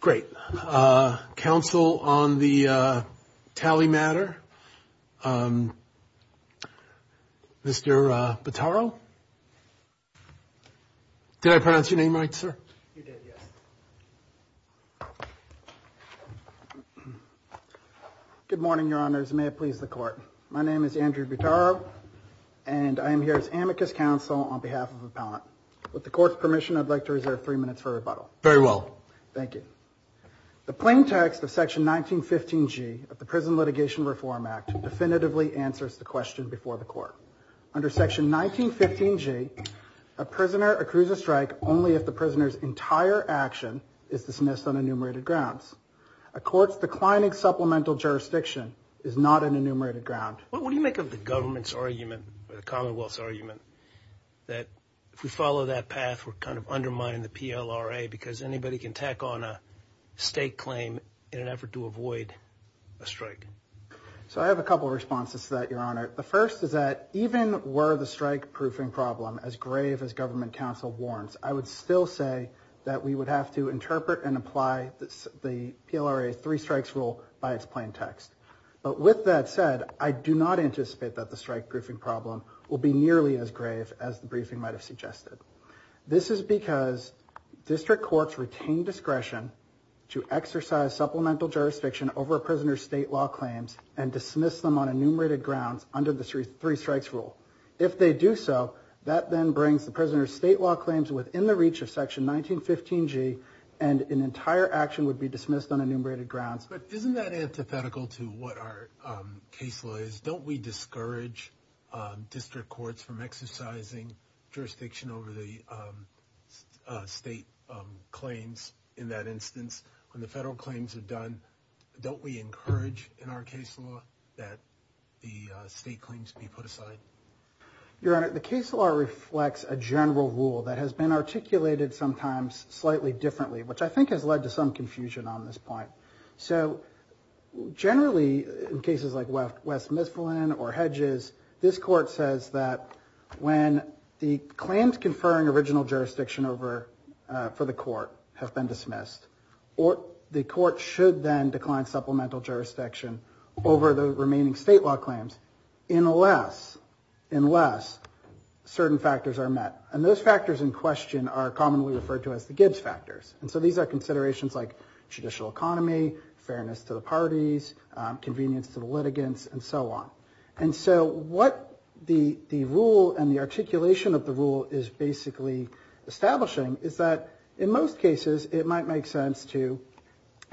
Great. Council on the Talley matter. Mr. Butaro. Did I pronounce your name right, sir? You did, yes. Good morning, Your Honors, and may it please the Court. My name is Andrew Butaro, and I am here as amicus counsel on behalf of the appellant. With the Court's permission, I'd like to reserve three minutes for rebuttal. Very well. Thank you. The plain text of Section 1915G of the Prison Litigation Reform Act definitively answers the question before the Court. Under Section 1915G, a prisoner accrues a strike only if the prisoner's entire action is dismissed on enumerated grounds. A court's declining supplemental jurisdiction is not an enumerated ground. What do you make of the government's argument or the Commonwealth's argument that if we follow that path, we're kind of undermining the PLRA because anybody can tack on a state claim in an effort to avoid a strike? So I have a couple of responses to that, Your Honor. The first is that even were the strike-proofing problem as grave as government counsel warns, I would still say that we would have to interpret and apply the PLRA three-strikes rule by its plain text. But with that said, I do not anticipate that the strike-proofing problem will be nearly as grave as the briefing might have suggested. This is because district courts retain discretion to exercise supplemental jurisdiction over a prisoner's state law claims and dismiss them on enumerated grounds under the three-strikes rule. If they do so, that then brings the prisoner's state law claims within the reach of Section 1915G, and an entire action would be dismissed on enumerated grounds. But isn't that antithetical to what our case law is? Don't we discourage district courts from exercising jurisdiction over the state claims in that instance? When the federal claims are done, don't we encourage in our case law that the state claims be put aside? Your Honor, the case law reflects a general rule that has been articulated sometimes slightly differently, which I think has led to some confusion on this point. So generally, in cases like West Mifflin or Hedges, this Court says that when the claims conferring original jurisdiction for the court have been dismissed, the court should then decline supplemental jurisdiction over the remaining state law claims unless certain factors are met. And those factors in question are commonly referred to as the Gibbs factors. And so these are considerations like judicial economy, fairness to the parties, convenience to the litigants, and so on. And so what the rule and the articulation of the rule is basically establishing is that in most cases, it might make sense to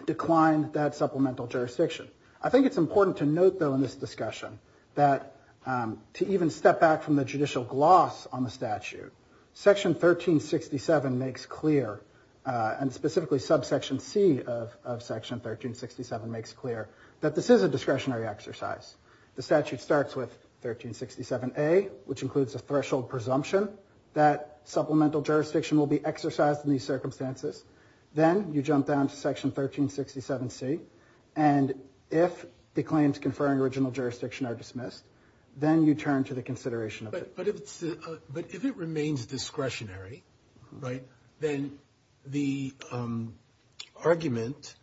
decline that supplemental jurisdiction. I think it's important to note, though, in this discussion that to even step back from the judicial gloss on the statute, Section 1367 makes clear, and specifically subsection C of Section 1367 makes clear that this is a discretionary exercise. The statute starts with 1367A, which includes a threshold presumption that supplemental jurisdiction will be exercised in these circumstances. Then you jump down to Section 1367C. And if the claims conferring original jurisdiction are dismissed, then you turn to the consideration of it. But if it remains discretionary, right, then the argument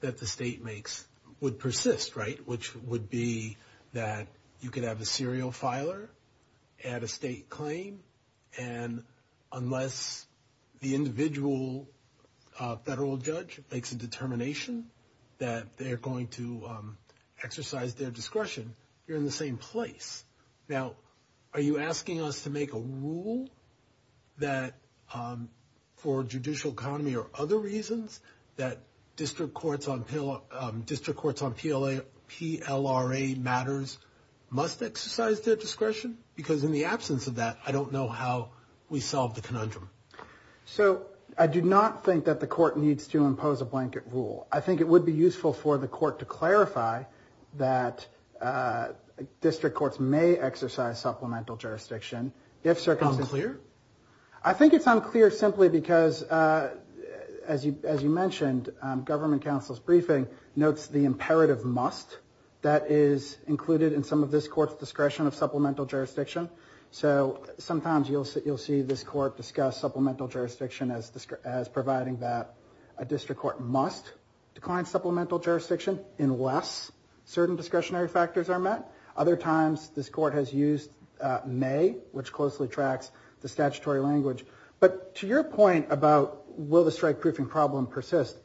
that the state makes would persist, right, which would be that you could have a serial filer at a state claim. And unless the individual federal judge makes a determination that they're going to exercise their discretion, you're in the same place. Now, are you asking us to make a rule that for judicial economy or other reasons that district courts on PLRA matters must exercise their discretion? Because in the absence of that, I don't know how we solve the conundrum. So I do not think that the court needs to impose a blanket rule. I think it would be useful for the court to clarify that district courts may exercise supplemental jurisdiction if circumstances- Unclear? I think it's unclear simply because, as you mentioned, government counsel's briefing notes the imperative must that is included in some of this court's discretion of supplemental jurisdiction. So sometimes you'll see this court discuss supplemental jurisdiction as providing that a district court must decline supplemental jurisdiction unless certain discretionary factors are met. Other times this court has used may, which closely tracks the statutory language. But to your point about will the strike-proofing problem persist,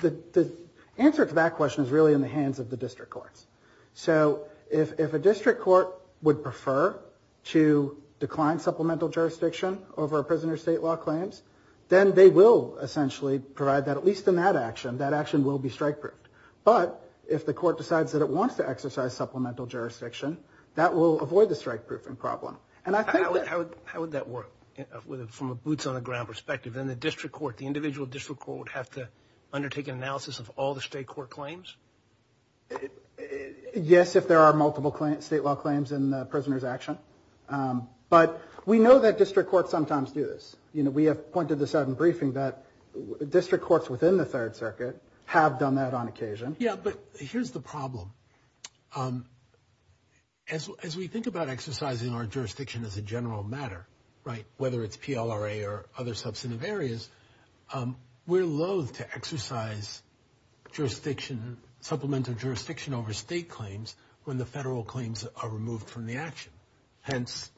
the answer to that question is really in the hands of the district courts. So if a district court would prefer to decline supplemental jurisdiction over a prisoner of state law claims, then they will essentially provide that, at least in that action. That action will be strike-proofed. But if the court decides that it wants to exercise supplemental jurisdiction, that will avoid the strike-proofing problem. And I think- How would that work from a boots-on-the-ground perspective? In the district court, the individual district court would have to undertake an analysis of all the state court claims? Yes, if there are multiple state law claims in the prisoner's action. But we know that district courts sometimes do this. You know, we have pointed this out in briefing that district courts within the Third Circuit have done that on occasion. As we think about exercising our jurisdiction as a general matter, right, whether it's PLRA or other substantive areas, we're loathe to exercise jurisdiction, supplemental jurisdiction over state claims when the federal claims are removed from the action. Hence,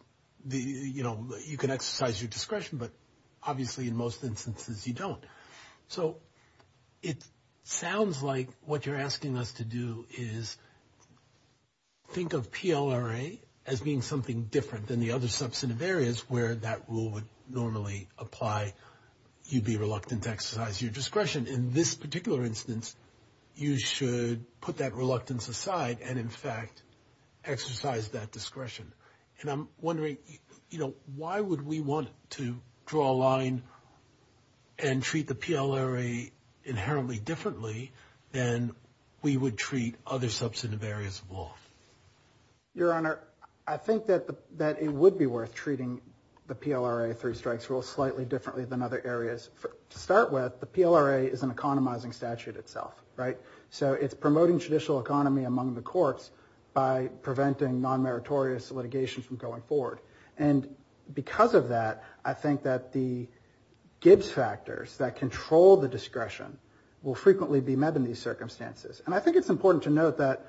you know, you can exercise your discretion, but obviously in most instances you don't. So it sounds like what you're asking us to do is think of PLRA as being something different than the other substantive areas where that rule would normally apply. You'd be reluctant to exercise your discretion. In this particular instance, you should put that reluctance aside and, in fact, exercise that discretion. And I'm wondering, you know, why would we want to draw a line and treat the PLRA inherently differently than we would treat other substantive areas of law? Your Honor, I think that it would be worth treating the PLRA Three Strikes Rule slightly differently than other areas. To start with, the PLRA is an economizing statute itself, right? So it's promoting judicial economy among the courts by preventing non-meritorious litigation from going forward. And because of that, I think that the Gibbs factors that control the discretion will frequently be met in these circumstances. And I think it's important to note that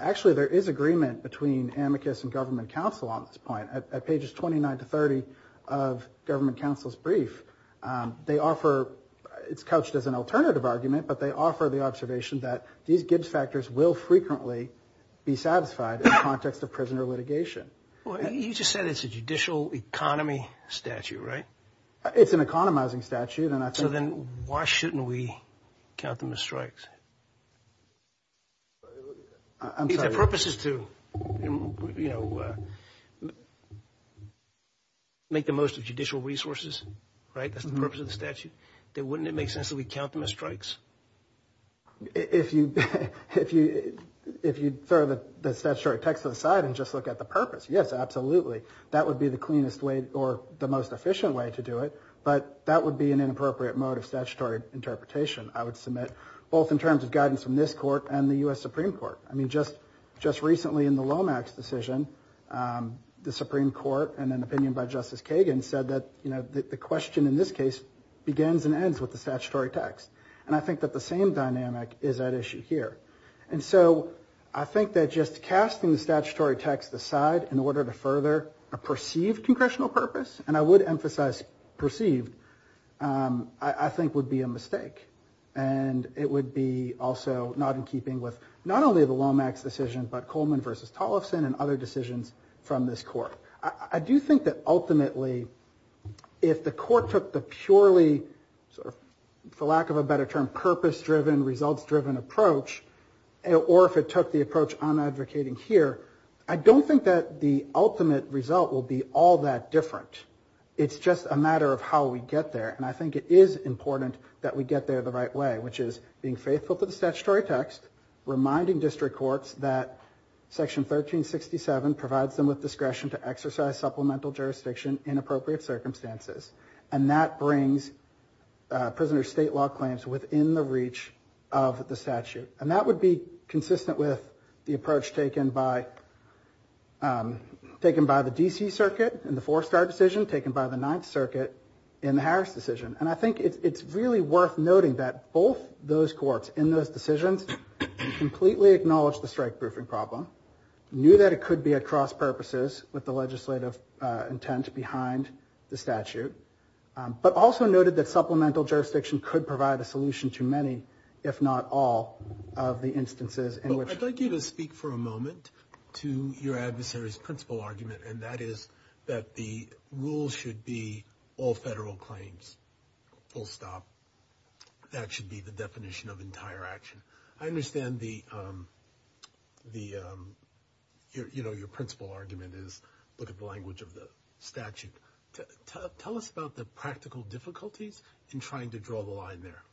actually there is agreement between amicus and government counsel on this point. At pages 29 to 30 of government counsel's brief, they offer – it's couched as an alternative argument, but they offer the observation that these Gibbs factors will frequently be satisfied in the context of prisoner litigation. Well, you just said it's a judicial economy statute, right? It's an economizing statute. So then why shouldn't we count them as strikes? I'm sorry. If the purpose is to, you know, make the most of judicial resources, right, that's the purpose of the statute, then wouldn't it make sense that we count them as strikes? If you throw the statutory text to the side and just look at the purpose, yes, absolutely. That would be the cleanest way or the most efficient way to do it, but that would be an inappropriate mode of statutory interpretation. I would submit both in terms of guidance from this court and the U.S. Supreme Court. I mean, just recently in the Lomax decision, the Supreme Court, in an opinion by Justice Kagan, said that, you know, the question in this case begins and ends with the statutory text. And I think that the same dynamic is at issue here. And so I think that just casting the statutory text aside in order to further a perceived congressional purpose, and I would emphasize perceived, I think would be a mistake. And it would be also not in keeping with not only the Lomax decision, but Coleman v. Tollefson and other decisions from this court. I do think that ultimately if the court took the purely sort of, for lack of a better term, purpose-driven, results-driven approach, or if it took the approach I'm advocating here, I don't think that the ultimate result will be all that different. It's just a matter of how we get there. And I think it is important that we get there the right way, which is being faithful to the statutory text, reminding district courts that Section 1367 provides them with discretion to exercise supplemental jurisdiction in appropriate circumstances. And that brings prisoner state law claims within the reach of the statute. And that would be consistent with the approach taken by the D.C. Circuit in the Four Star decision, taken by the Ninth Circuit in the Harris decision. And I think it's really worth noting that both those courts in those decisions completely acknowledged the strike-proofing problem, knew that it could be a cross-purposes with the legislative intent behind the statute, but also noted that supplemental jurisdiction could provide a solution to many, if not all, of the instances in which. I'd like you to speak for a moment to your adversary's principle argument, and that is that the rule should be all federal claims, full stop. That should be the definition of entire action. I understand the, you know, your principle argument is look at the language of the statute. Tell us about the practical difficulties in trying to draw the line there.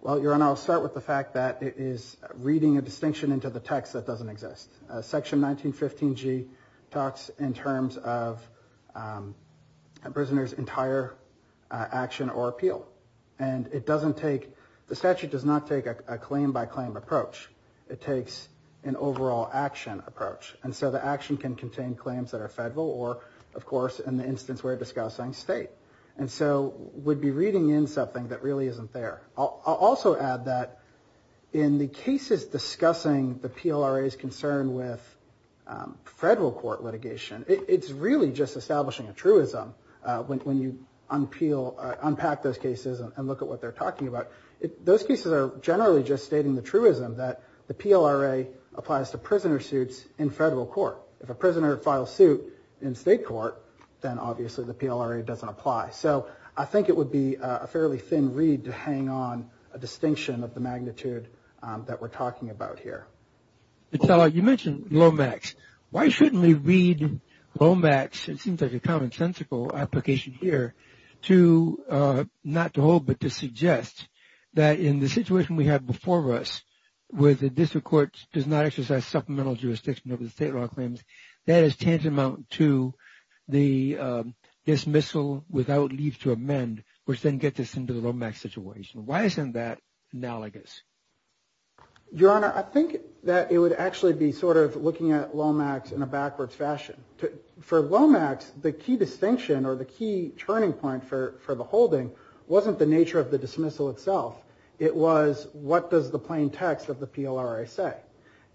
Well, Your Honor, I'll start with the fact that it is reading a distinction into the text that doesn't exist. Section 1915G talks in terms of a prisoner's entire action or appeal. And it doesn't take, the statute does not take a claim-by-claim approach. It takes an overall action approach. And so the action can contain claims that are federal or, of course, in the instance we're discussing, state. And so we'd be reading in something that really isn't there. I'll also add that in the cases discussing the PLRA's concern with federal court litigation, it's really just establishing a truism when you unpack those cases and look at what they're talking about. Those cases are generally just stating the truism that the PLRA applies to prisoner suits in federal court. If a prisoner files suit in state court, then obviously the PLRA doesn't apply. So I think it would be a fairly thin read to hang on a distinction of the magnitude that we're talking about here. You mentioned LOMAX. Why shouldn't we read LOMAX? It seems like a common-sensical application here to not to hold but to suggest that in the situation we have before us, where the district court does not exercise supplemental jurisdiction over the state law claims, that is tantamount to the dismissal without leave to amend, which then gets us into the LOMAX situation. Why isn't that analogous? Your Honor, I think that it would actually be sort of looking at LOMAX in a backwards fashion. For LOMAX, the key distinction or the key turning point for the holding wasn't the nature of the dismissal itself. It was what does the plain text of the PLRA say?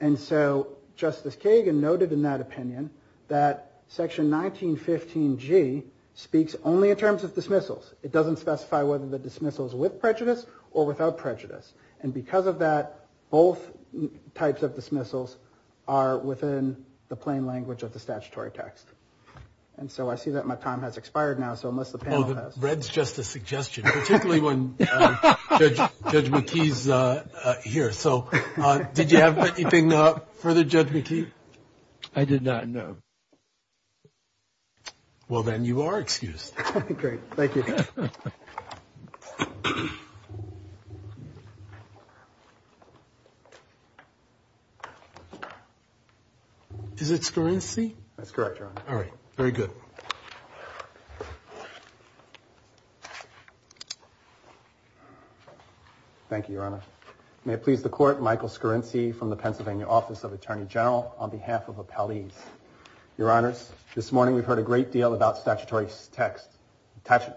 And so Justice Kagan noted in that opinion that Section 1915G speaks only in terms of dismissals. It doesn't specify whether the dismissal is with prejudice or without prejudice. And because of that, both types of dismissals are within the plain language of the statutory text. And so I see that my time has expired now. So unless the panel has – Oh, the red's just a suggestion, particularly when Judge McKee's here. So did you have anything further, Judge McKee? I did not, no. Well, then you are excused. Great. Thank you. Is it Scorinci? That's correct, Your Honor. All right. Very good. Thank you, Your Honor. May it please the Court, Michael Scorinci from the Pennsylvania Office of Attorney General on behalf of Appellees. Your Honors, this morning we've heard a great deal about statutory text.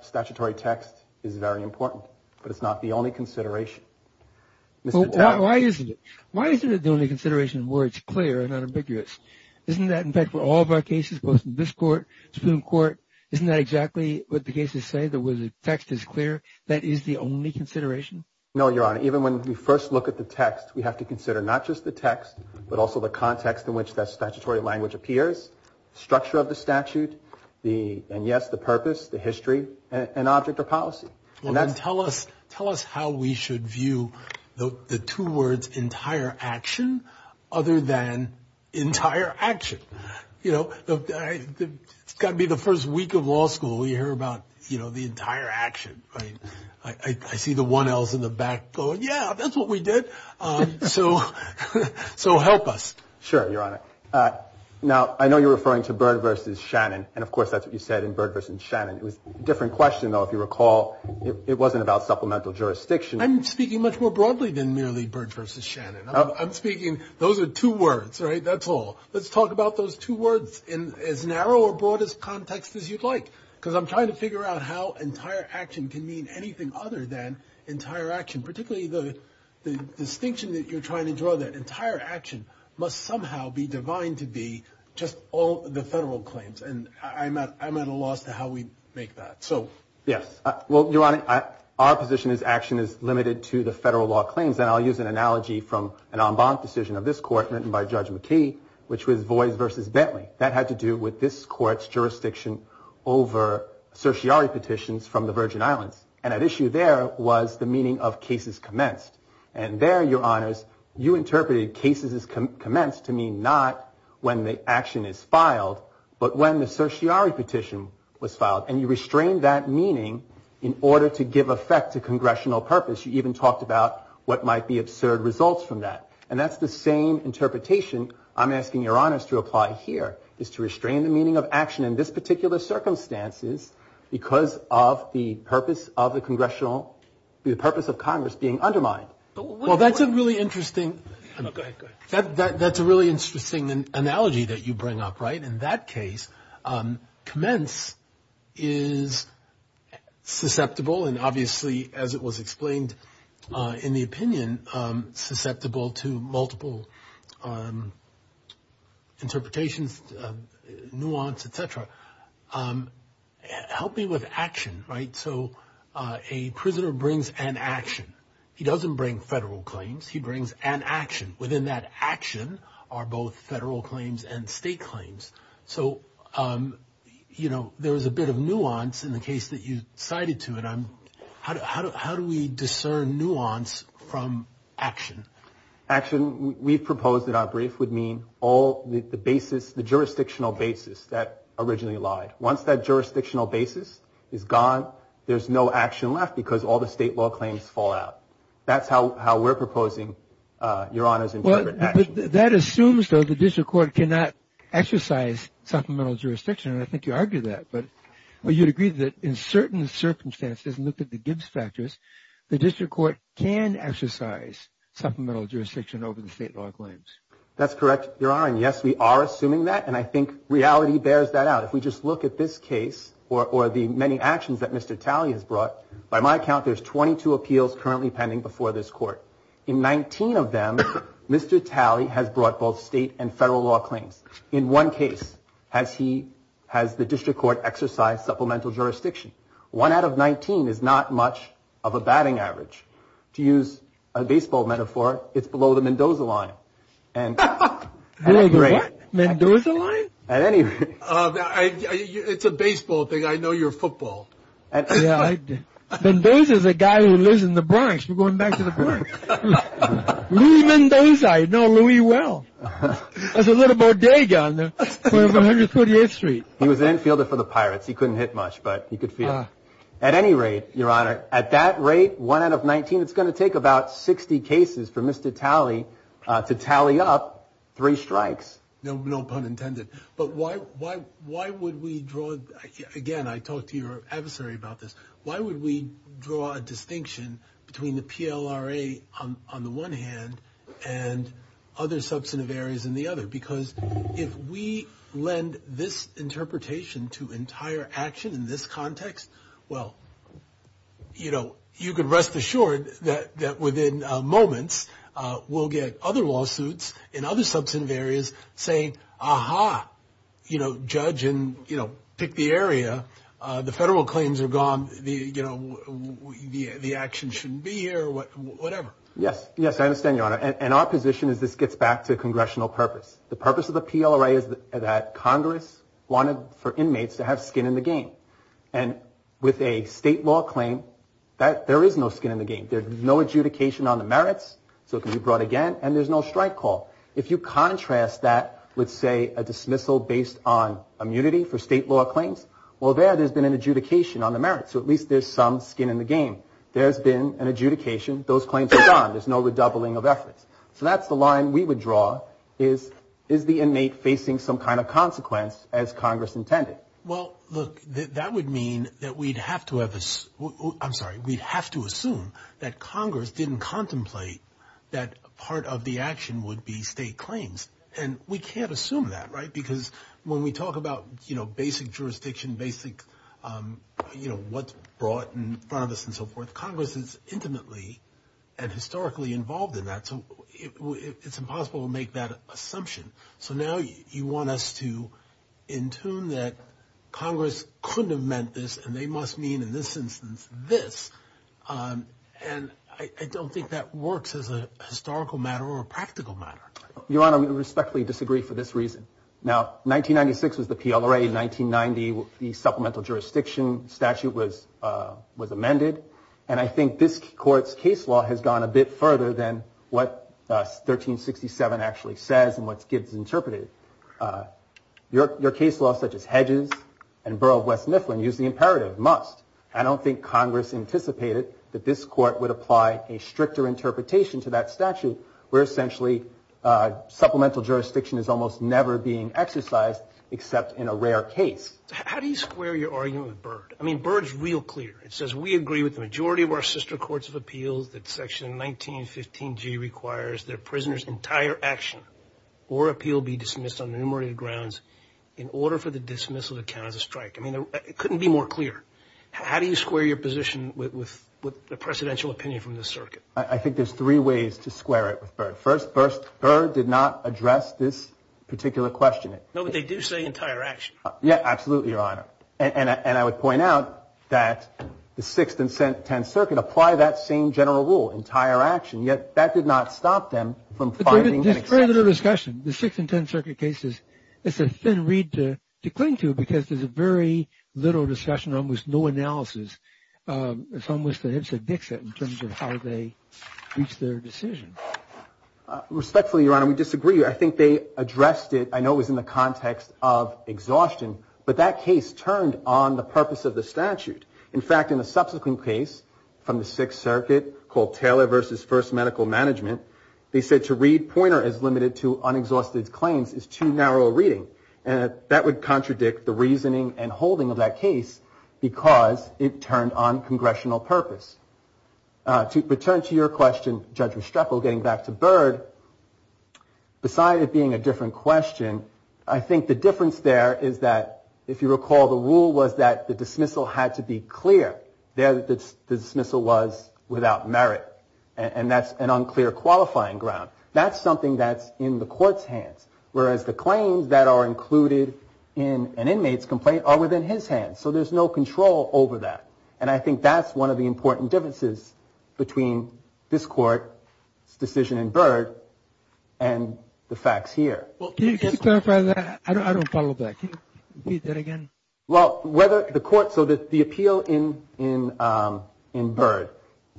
Statutory text is very important, but it's not the only consideration. Why isn't it? Why isn't it the only consideration where it's clear and unambiguous? Isn't that, in fact, for all of our cases, both in this Court, Supreme Court, isn't that exactly what the cases say, that where the text is clear, that is the only consideration? No, Your Honor. Even when we first look at the text, we have to consider not just the text, but also the context in which that statutory language appears, structure of the statute, and, yes, the purpose, the history, and object or policy. Tell us how we should view the two words entire action other than entire action. You know, it's got to be the first week of law school. We hear about, you know, the entire action. I see the 1Ls in the back going, yeah, that's what we did. So help us. Sure, Your Honor. Now, I know you're referring to Byrd v. Shannon, and, of course, that's what you said in Byrd v. Shannon. It was a different question, though, if you recall. It wasn't about supplemental jurisdiction. I'm speaking much more broadly than merely Byrd v. Shannon. I'm speaking those are two words, right? That's all. Let's talk about those two words in as narrow or broad a context as you'd like, because I'm trying to figure out how entire action can mean anything other than entire action, particularly the distinction that you're trying to draw there. Entire action must somehow be defined to be just all the federal claims, and I'm at a loss to how we make that. Yes. Well, Your Honor, our position is action is limited to the federal law claims, and I'll use an analogy from an en banc decision of this court written by Judge McKee, which was Voys v. Bentley. That had to do with this court's jurisdiction over certiorari petitions from the Virgin Islands, and at issue there was the meaning of cases commenced. And there, Your Honors, you interpreted cases commenced to mean not when the action is filed, but when the certiorari petition was filed, and you restrained that meaning in order to give effect to congressional purpose. You even talked about what might be absurd results from that, and that's the same interpretation I'm asking Your Honors to apply here, is to restrain the meaning of action in this particular circumstances because of the purpose of Congress being undermined. Well, that's a really interesting analogy that you bring up, right? In that case, commence is susceptible, and obviously, as it was explained in the opinion, susceptible to multiple interpretations, nuance, et cetera. Help me with action, right? So a prisoner brings an action. He doesn't bring federal claims. He brings an action. Within that action are both federal claims and state claims. So, you know, there is a bit of nuance in the case that you cited to it. How do we discern nuance from action? Action, we've proposed in our brief, would mean all the basis, the jurisdictional basis that originally lied. Once that jurisdictional basis is gone, there's no action left because all the state law claims fall out. That's how we're proposing, Your Honors, interpret action. Well, that assumes, though, the district court cannot exercise supplemental jurisdiction, and I think you argued that. But you'd agree that in certain circumstances, look at the Gibbs factors, the district court can exercise supplemental jurisdiction over the state law claims. That's correct, Your Honor, and, yes, we are assuming that, and I think reality bears that out. If we just look at this case or the many actions that Mr. Talley has brought, by my count there's 22 appeals currently pending before this court. In 19 of them, Mr. Talley has brought both state and federal law claims. In one case has he, has the district court exercised supplemental jurisdiction. One out of 19 is not much of a batting average. To use a baseball metaphor, it's below the Mendoza line. What? Mendoza line? At any rate. It's a baseball thing. I know you're a football. Mendoza's a guy who lives in the Bronx. We're going back to the Bronx. Louie Mendoza, I know Louie well. There's a little bodega on the 148th Street. He was an infielder for the Pirates. He couldn't hit much, but he could field. At any rate, Your Honor, at that rate, one out of 19, it's going to take about 60 cases for Mr. Talley to tally up three strikes. No pun intended, but why would we draw, again, I talked to your adversary about this, why would we draw a distinction between the PLRA on the one hand and other substantive areas in the other? Because if we lend this interpretation to entire action in this context, well, you know, you can rest assured that within moments, we'll get other lawsuits in other substantive areas saying, you know, judge and, you know, pick the area. The federal claims are gone. You know, the action shouldn't be here or whatever. Yes, yes, I understand, Your Honor. And our position is this gets back to congressional purpose. The purpose of the PLRA is that Congress wanted for inmates to have skin in the game. And with a state law claim, there is no skin in the game. There's no adjudication on the merits, so it can be brought again, and there's no strike call. If you contrast that with, say, a dismissal based on immunity for state law claims, well, there, there's been an adjudication on the merits, so at least there's some skin in the game. There's been an adjudication. Those claims are gone. There's no redoubling of efforts. So that's the line we would draw is, is the inmate facing some kind of consequence as Congress intended? Well, look, that would mean that we'd have to have a, I'm sorry, we'd have to assume that Congress didn't contemplate that part of the action would be state claims. And we can't assume that, right? Because when we talk about, you know, basic jurisdiction, basic, you know, what's brought in front of us and so forth, Congress is intimately and historically involved in that. So it's impossible to make that assumption. So now you want us to entomb that Congress couldn't have meant this, and they must mean in this instance this. And I don't think that works as a historical matter or a practical matter. Your Honor, we respectfully disagree for this reason. Now, 1996 was the PLRA. In 1990, the Supplemental Jurisdiction Statute was amended. And I think this Court's case law has gone a bit further than what 1367 actually says and what Gibbs interpreted. Your case law, such as Hedges and Burrough of West Mifflin, used the imperative, must. I don't think Congress anticipated that this Court would apply a stricter interpretation to that statute, where essentially supplemental jurisdiction is almost never being exercised except in a rare case. How do you square your argument with Byrd? I mean, Byrd's real clear. It says, we agree with the majority of our sister courts of appeals that Section 1915G requires that a prisoner's entire action or appeal be dismissed on numerated grounds in order for the dismissal to count as a strike. I mean, it couldn't be more clear. How do you square your position with the presidential opinion from this circuit? I think there's three ways to square it with Byrd. First, Byrd did not address this particular question. No, but they do say entire action. Yeah, absolutely, Your Honor. And I would point out that the Sixth and Tenth Circuit apply that same general rule, entire action. Yet that did not stop them from finding an exception. There's very little discussion. The Sixth and Tenth Circuit cases, it's a thin reed to cling to because there's very little discussion, almost no analysis. It's almost a hipster dixit in terms of how they reach their decision. Respectfully, Your Honor, we disagree. I think they addressed it. I know it was in the context of exhaustion, but that case turned on the purpose of the statute. In fact, in a subsequent case from the Sixth Circuit called Taylor versus First Medical Management, they said to read pointer as limited to unexhausted claims is too narrow a reading. And that would contradict the reasoning and holding of that case because it turned on congressional purpose. To return to your question, Judge Restrepo, getting back to Byrd, beside it being a different question, I think the difference there is that, if you recall, the rule was that the dismissal had to be clear. There the dismissal was without merit. And that's an unclear qualifying ground. That's something that's in the court's hands. Whereas the claims that are included in an inmate's complaint are within his hands. So there's no control over that. And I think that's one of the important differences between this court's decision in Byrd and the facts here. Can you clarify that? I don't follow that. Can you repeat that again? Well, whether the court, so the appeal in Byrd,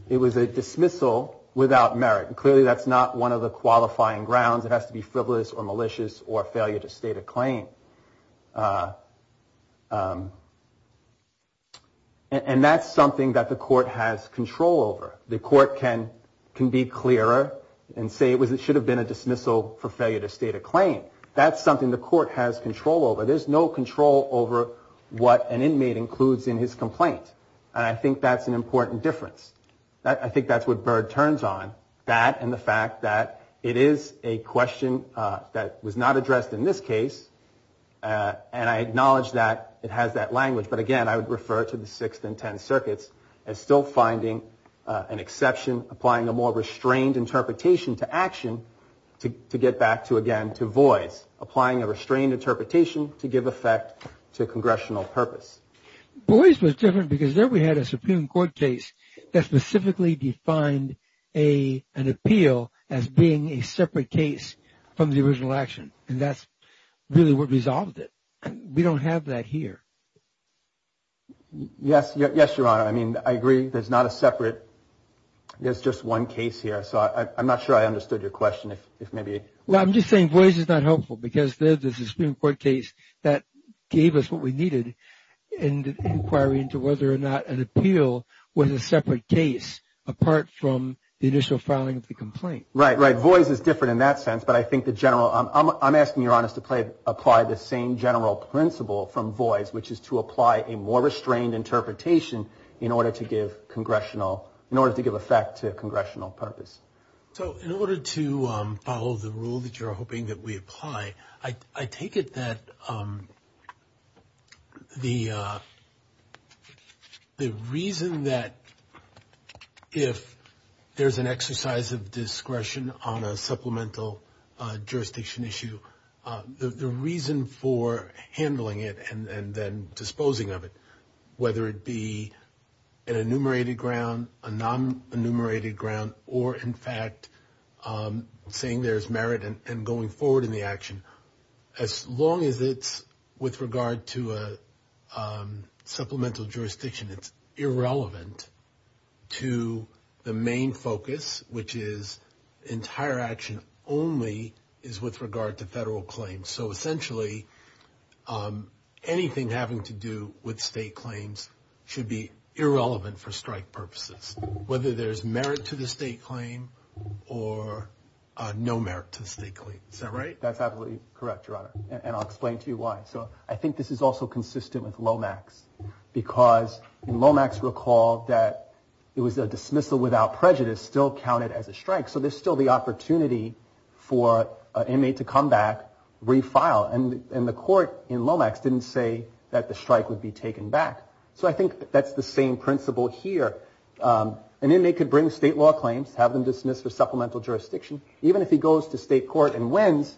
it was a dismissal without merit. And clearly that's not one of the qualifying grounds. It has to be frivolous or malicious or failure to state a claim. And that's something that the court has control over. The court can be clearer and say it should have been a dismissal for failure to state a claim. That's something the court has control over. There's no control over what an inmate includes in his complaint. And I think that's an important difference. I think that's what Byrd turns on, that and the fact that it is a question that was not addressed in this case. And I acknowledge that it has that language. But again, I would refer to the sixth and ten circuits as still finding an exception, applying a more restrained interpretation to action to get back to again to voice, applying a restrained interpretation to give effect to congressional purpose. Boys was different because there we had a Supreme Court case that specifically defined a an appeal as being a separate case from the original action. And that's really what resolved it. We don't have that here. Yes. Yes, Your Honor. I mean, I agree. There's not a separate. There's just one case here. So I'm not sure I understood your question. If maybe. Well, I'm just saying voice is not helpful because there's a Supreme Court case that gave us what we needed. And inquiry into whether or not an appeal was a separate case apart from the initial filing of the complaint. Right. Right. Voice is different in that sense. But I think the general I'm asking your honest to play apply the same general principle from voice, which is to apply a more restrained interpretation in order to give congressional in order to give effect to congressional purpose. So in order to follow the rule that you're hoping that we apply, I take it that the the reason that if there's an exercise of discretion on a supplemental jurisdiction issue, the reason for handling it and then disposing of it, whether it be an enumerated ground, a non enumerated ground, or in fact saying there's merit and going forward in the action, as long as it's with regard to a supplemental jurisdiction, it's irrelevant to the main focus, which is entire action only is with regard to federal claims. So essentially anything having to do with state claims should be irrelevant for strike purposes, whether there's merit to the state claim or no merit to the state claim. Is that right? That's absolutely correct, Your Honor. And I'll explain to you why. So I think this is also consistent with Lomax because Lomax recalled that it was a dismissal without prejudice still counted as a strike. So there's still the opportunity for an inmate to come back, refile. And the court in Lomax didn't say that the strike would be taken back. So I think that's the same principle here. An inmate could bring state law claims, have them dismissed for supplemental jurisdiction. Even if he goes to state court and wins,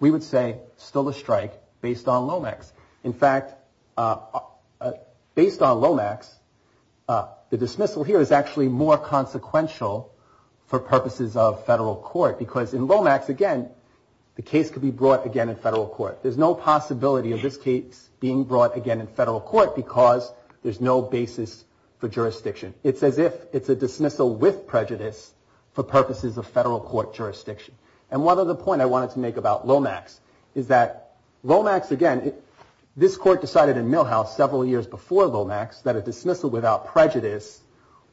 we would say still a strike based on Lomax. In fact, based on Lomax, the dismissal here is actually more consequential for purposes of federal court because in Lomax, again, the case could be brought again in federal court. There's no possibility of this case being brought again in federal court because there's no basis for jurisdiction. It's as if it's a dismissal with prejudice for purposes of federal court jurisdiction. And one other point I wanted to make about Lomax is that Lomax, again, this court decided in Milhouse several years before Lomax that a dismissal without prejudice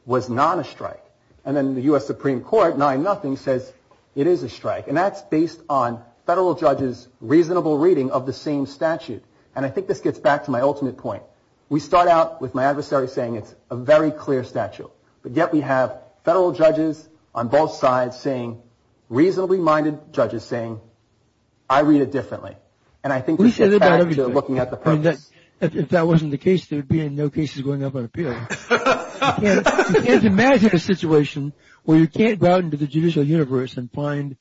was not a strike. And then the U.S. Supreme Court, 9-0, says it is a strike. And that's based on federal judges' reasonable reading of the same statute. And I think this gets back to my ultimate point. We start out with my adversary saying it's a very clear statute, but yet we have federal judges on both sides saying, reasonably minded judges saying, I read it differently. And I think this gets back to looking at the purpose. If that wasn't the case, there would be no cases going up on appeal. You can't imagine a situation where you can't go out into the judicial universe and find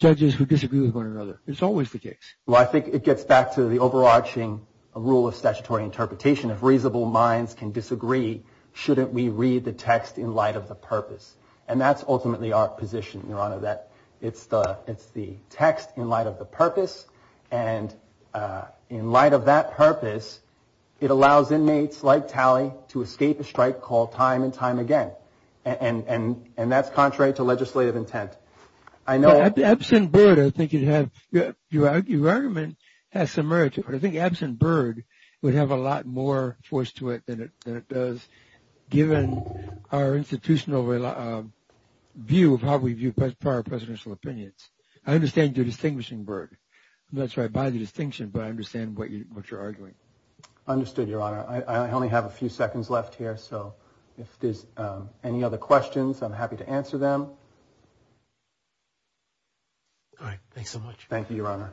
judges who disagree with one another. It's always the case. Well, I think it gets back to the overarching rule of statutory interpretation. If reasonable minds can disagree, shouldn't we read the text in light of the purpose? And that's ultimately our position, Your Honor, that it's the text in light of the purpose. And in light of that purpose, it allows inmates like Talley to escape a strike call time and time again. And that's contrary to legislative intent. Absent Byrd, I think your argument has some merit to it. I think absent Byrd would have a lot more force to it than it does, given our institutional view of how we view prior presidential opinions. I understand you're distinguishing Byrd. I'm not sure I buy the distinction, but I understand what you're arguing. Understood, Your Honor. I only have a few seconds left here. So if there's any other questions, I'm happy to answer them. All right, thanks so much. Thank you, Your Honor.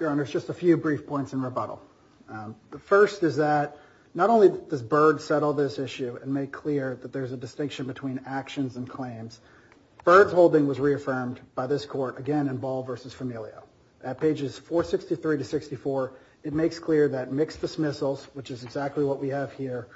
Your Honor, just a few brief points in rebuttal. The first is that not only does Byrd settle this issue and make clear that there's a distinction between actions and claims, Byrd's holding was reaffirmed by this court, again, in Ball v. Familio. At pages 463 to 64, it makes clear that mixed dismissals, which is exactly what we have here,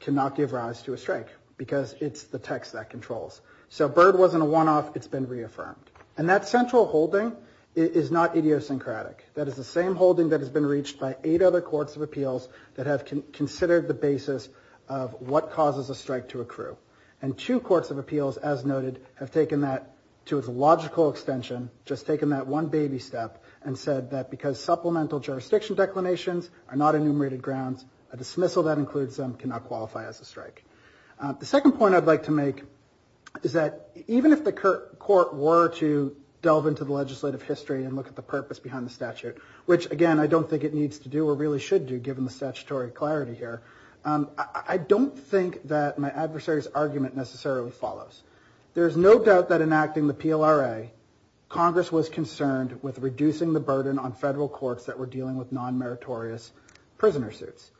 cannot give rise to a strike, because it's the text that controls. So Byrd wasn't a one-off. It's been reaffirmed. And that central holding is not idiosyncratic. That is the same holding that has been reached by eight other courts of appeals that have considered the basis of what causes a strike to accrue. And two courts of appeals, as noted, have taken that to its logical extension, just taken that one baby step, and said that because supplemental jurisdiction declinations are not enumerated grounds, a dismissal that includes them cannot qualify as a strike. The second point I'd like to make is that even if the court were to delve into the legislative history and look at the purpose behind the statute, which, again, I don't think it needs to do or really should do, given the statutory clarity here, I don't think that my adversary's argument necessarily follows. There's no doubt that in acting the PLRA, Congress was concerned with reducing the burden on federal courts that were dealing with non-meritorious prisoner suits.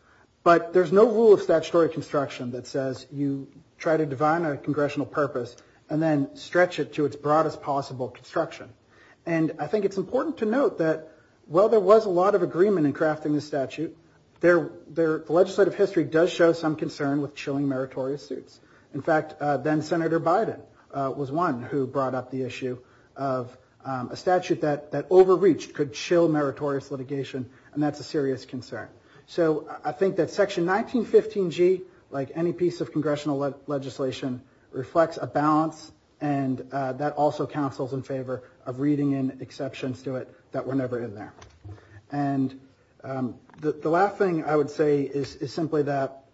But there's no rule of statutory construction that says you try to define a congressional purpose and then stretch it to its broadest possible construction. And I think it's important to note that while there was a lot of agreement in crafting the statute, the legislative history does show some concern with chilling meritorious suits. In fact, then-Senator Biden was one who brought up the issue of a statute that overreached, could chill meritorious litigation, and that's a serious concern. So I think that Section 1915G, like any piece of congressional legislation, reflects a balance, and that also counsels in favor of reading in exceptions to it that were never in there. And the last thing I would say is simply that,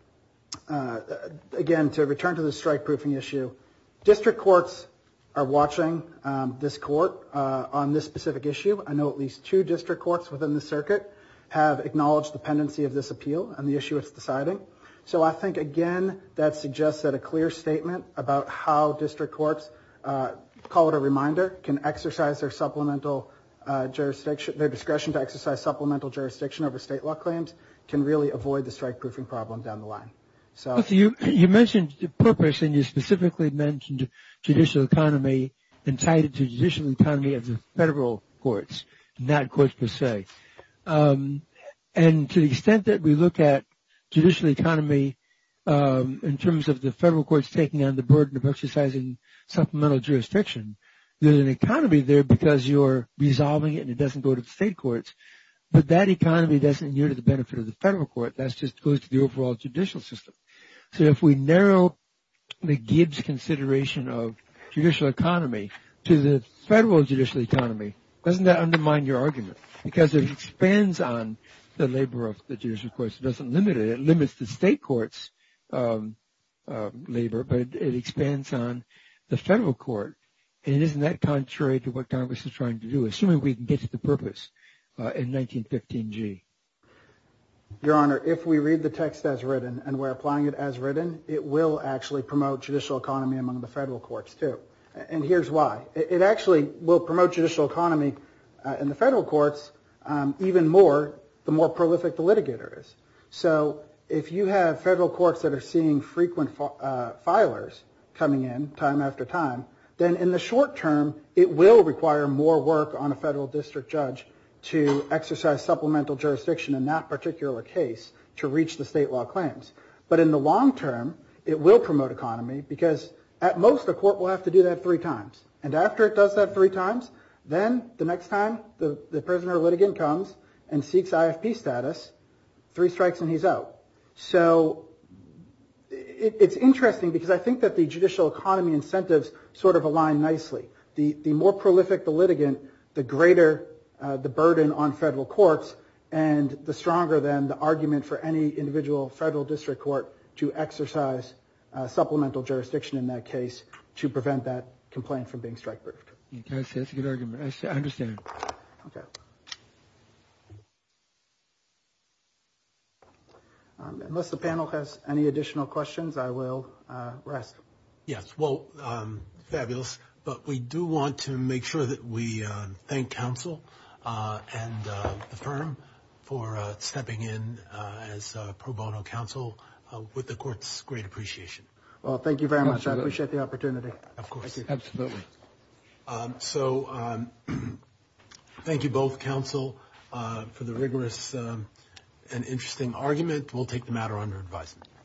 again, to return to the strike-proofing issue, district courts are watching this court on this specific issue. I know at least two district courts within the circuit have acknowledged the pendency of this appeal and the issue it's deciding. So I think, again, that suggests that a clear statement about how district courts, call it a reminder, can exercise their discretion to exercise supplemental jurisdiction over state law claims can really avoid the strike-proofing problem down the line. You mentioned purpose, and you specifically mentioned judicial economy and tied it to judicial economy of the federal courts, not courts per se. And to the extent that we look at judicial economy in terms of the federal courts taking on the burden of exercising supplemental jurisdiction, there's an economy there because you're resolving it and it doesn't go to the state courts, but that economy doesn't yield the benefit of the federal court. That just goes to the overall judicial system. So if we narrow the Gibbs consideration of judicial economy to the federal judicial economy, doesn't that undermine your argument? Because it expands on the labor of the judicial courts. It doesn't limit it. It limits the state courts' labor, but it expands on the federal court. And isn't that contrary to what Congress is trying to do, assuming we can get to the purpose in 1915G? Your Honor, if we read the text as written and we're applying it as written, it will actually promote judicial economy among the federal courts, too. And here's why. It actually will promote judicial economy in the federal courts even more, the more prolific the litigator is. So if you have federal courts that are seeing frequent filers coming in time after time, then in the short term, it will require more work on a federal district judge to exercise supplemental jurisdiction in that particular case to reach the state law claims. But in the long term, it will promote economy because, at most, the court will have to do that three times. And after it does that three times, then the next time the prisoner or litigant comes and seeks IFP status, three strikes and he's out. So it's interesting because I think that the judicial economy incentives sort of align nicely. The more prolific the litigant, the greater the burden on federal courts, and the stronger, then, the argument for any individual federal district court to exercise supplemental jurisdiction in that case to prevent that complaint from being strike-proofed. That's a good argument. I understand. Unless the panel has any additional questions, I will rest. Yes. Well, fabulous. But we do want to make sure that we thank counsel and the firm for stepping in as pro bono counsel, with the court's great appreciation. Well, thank you very much. I appreciate the opportunity. Of course. Absolutely. So thank you both, counsel, for the rigorous and interesting argument. We'll take the matter under advisement.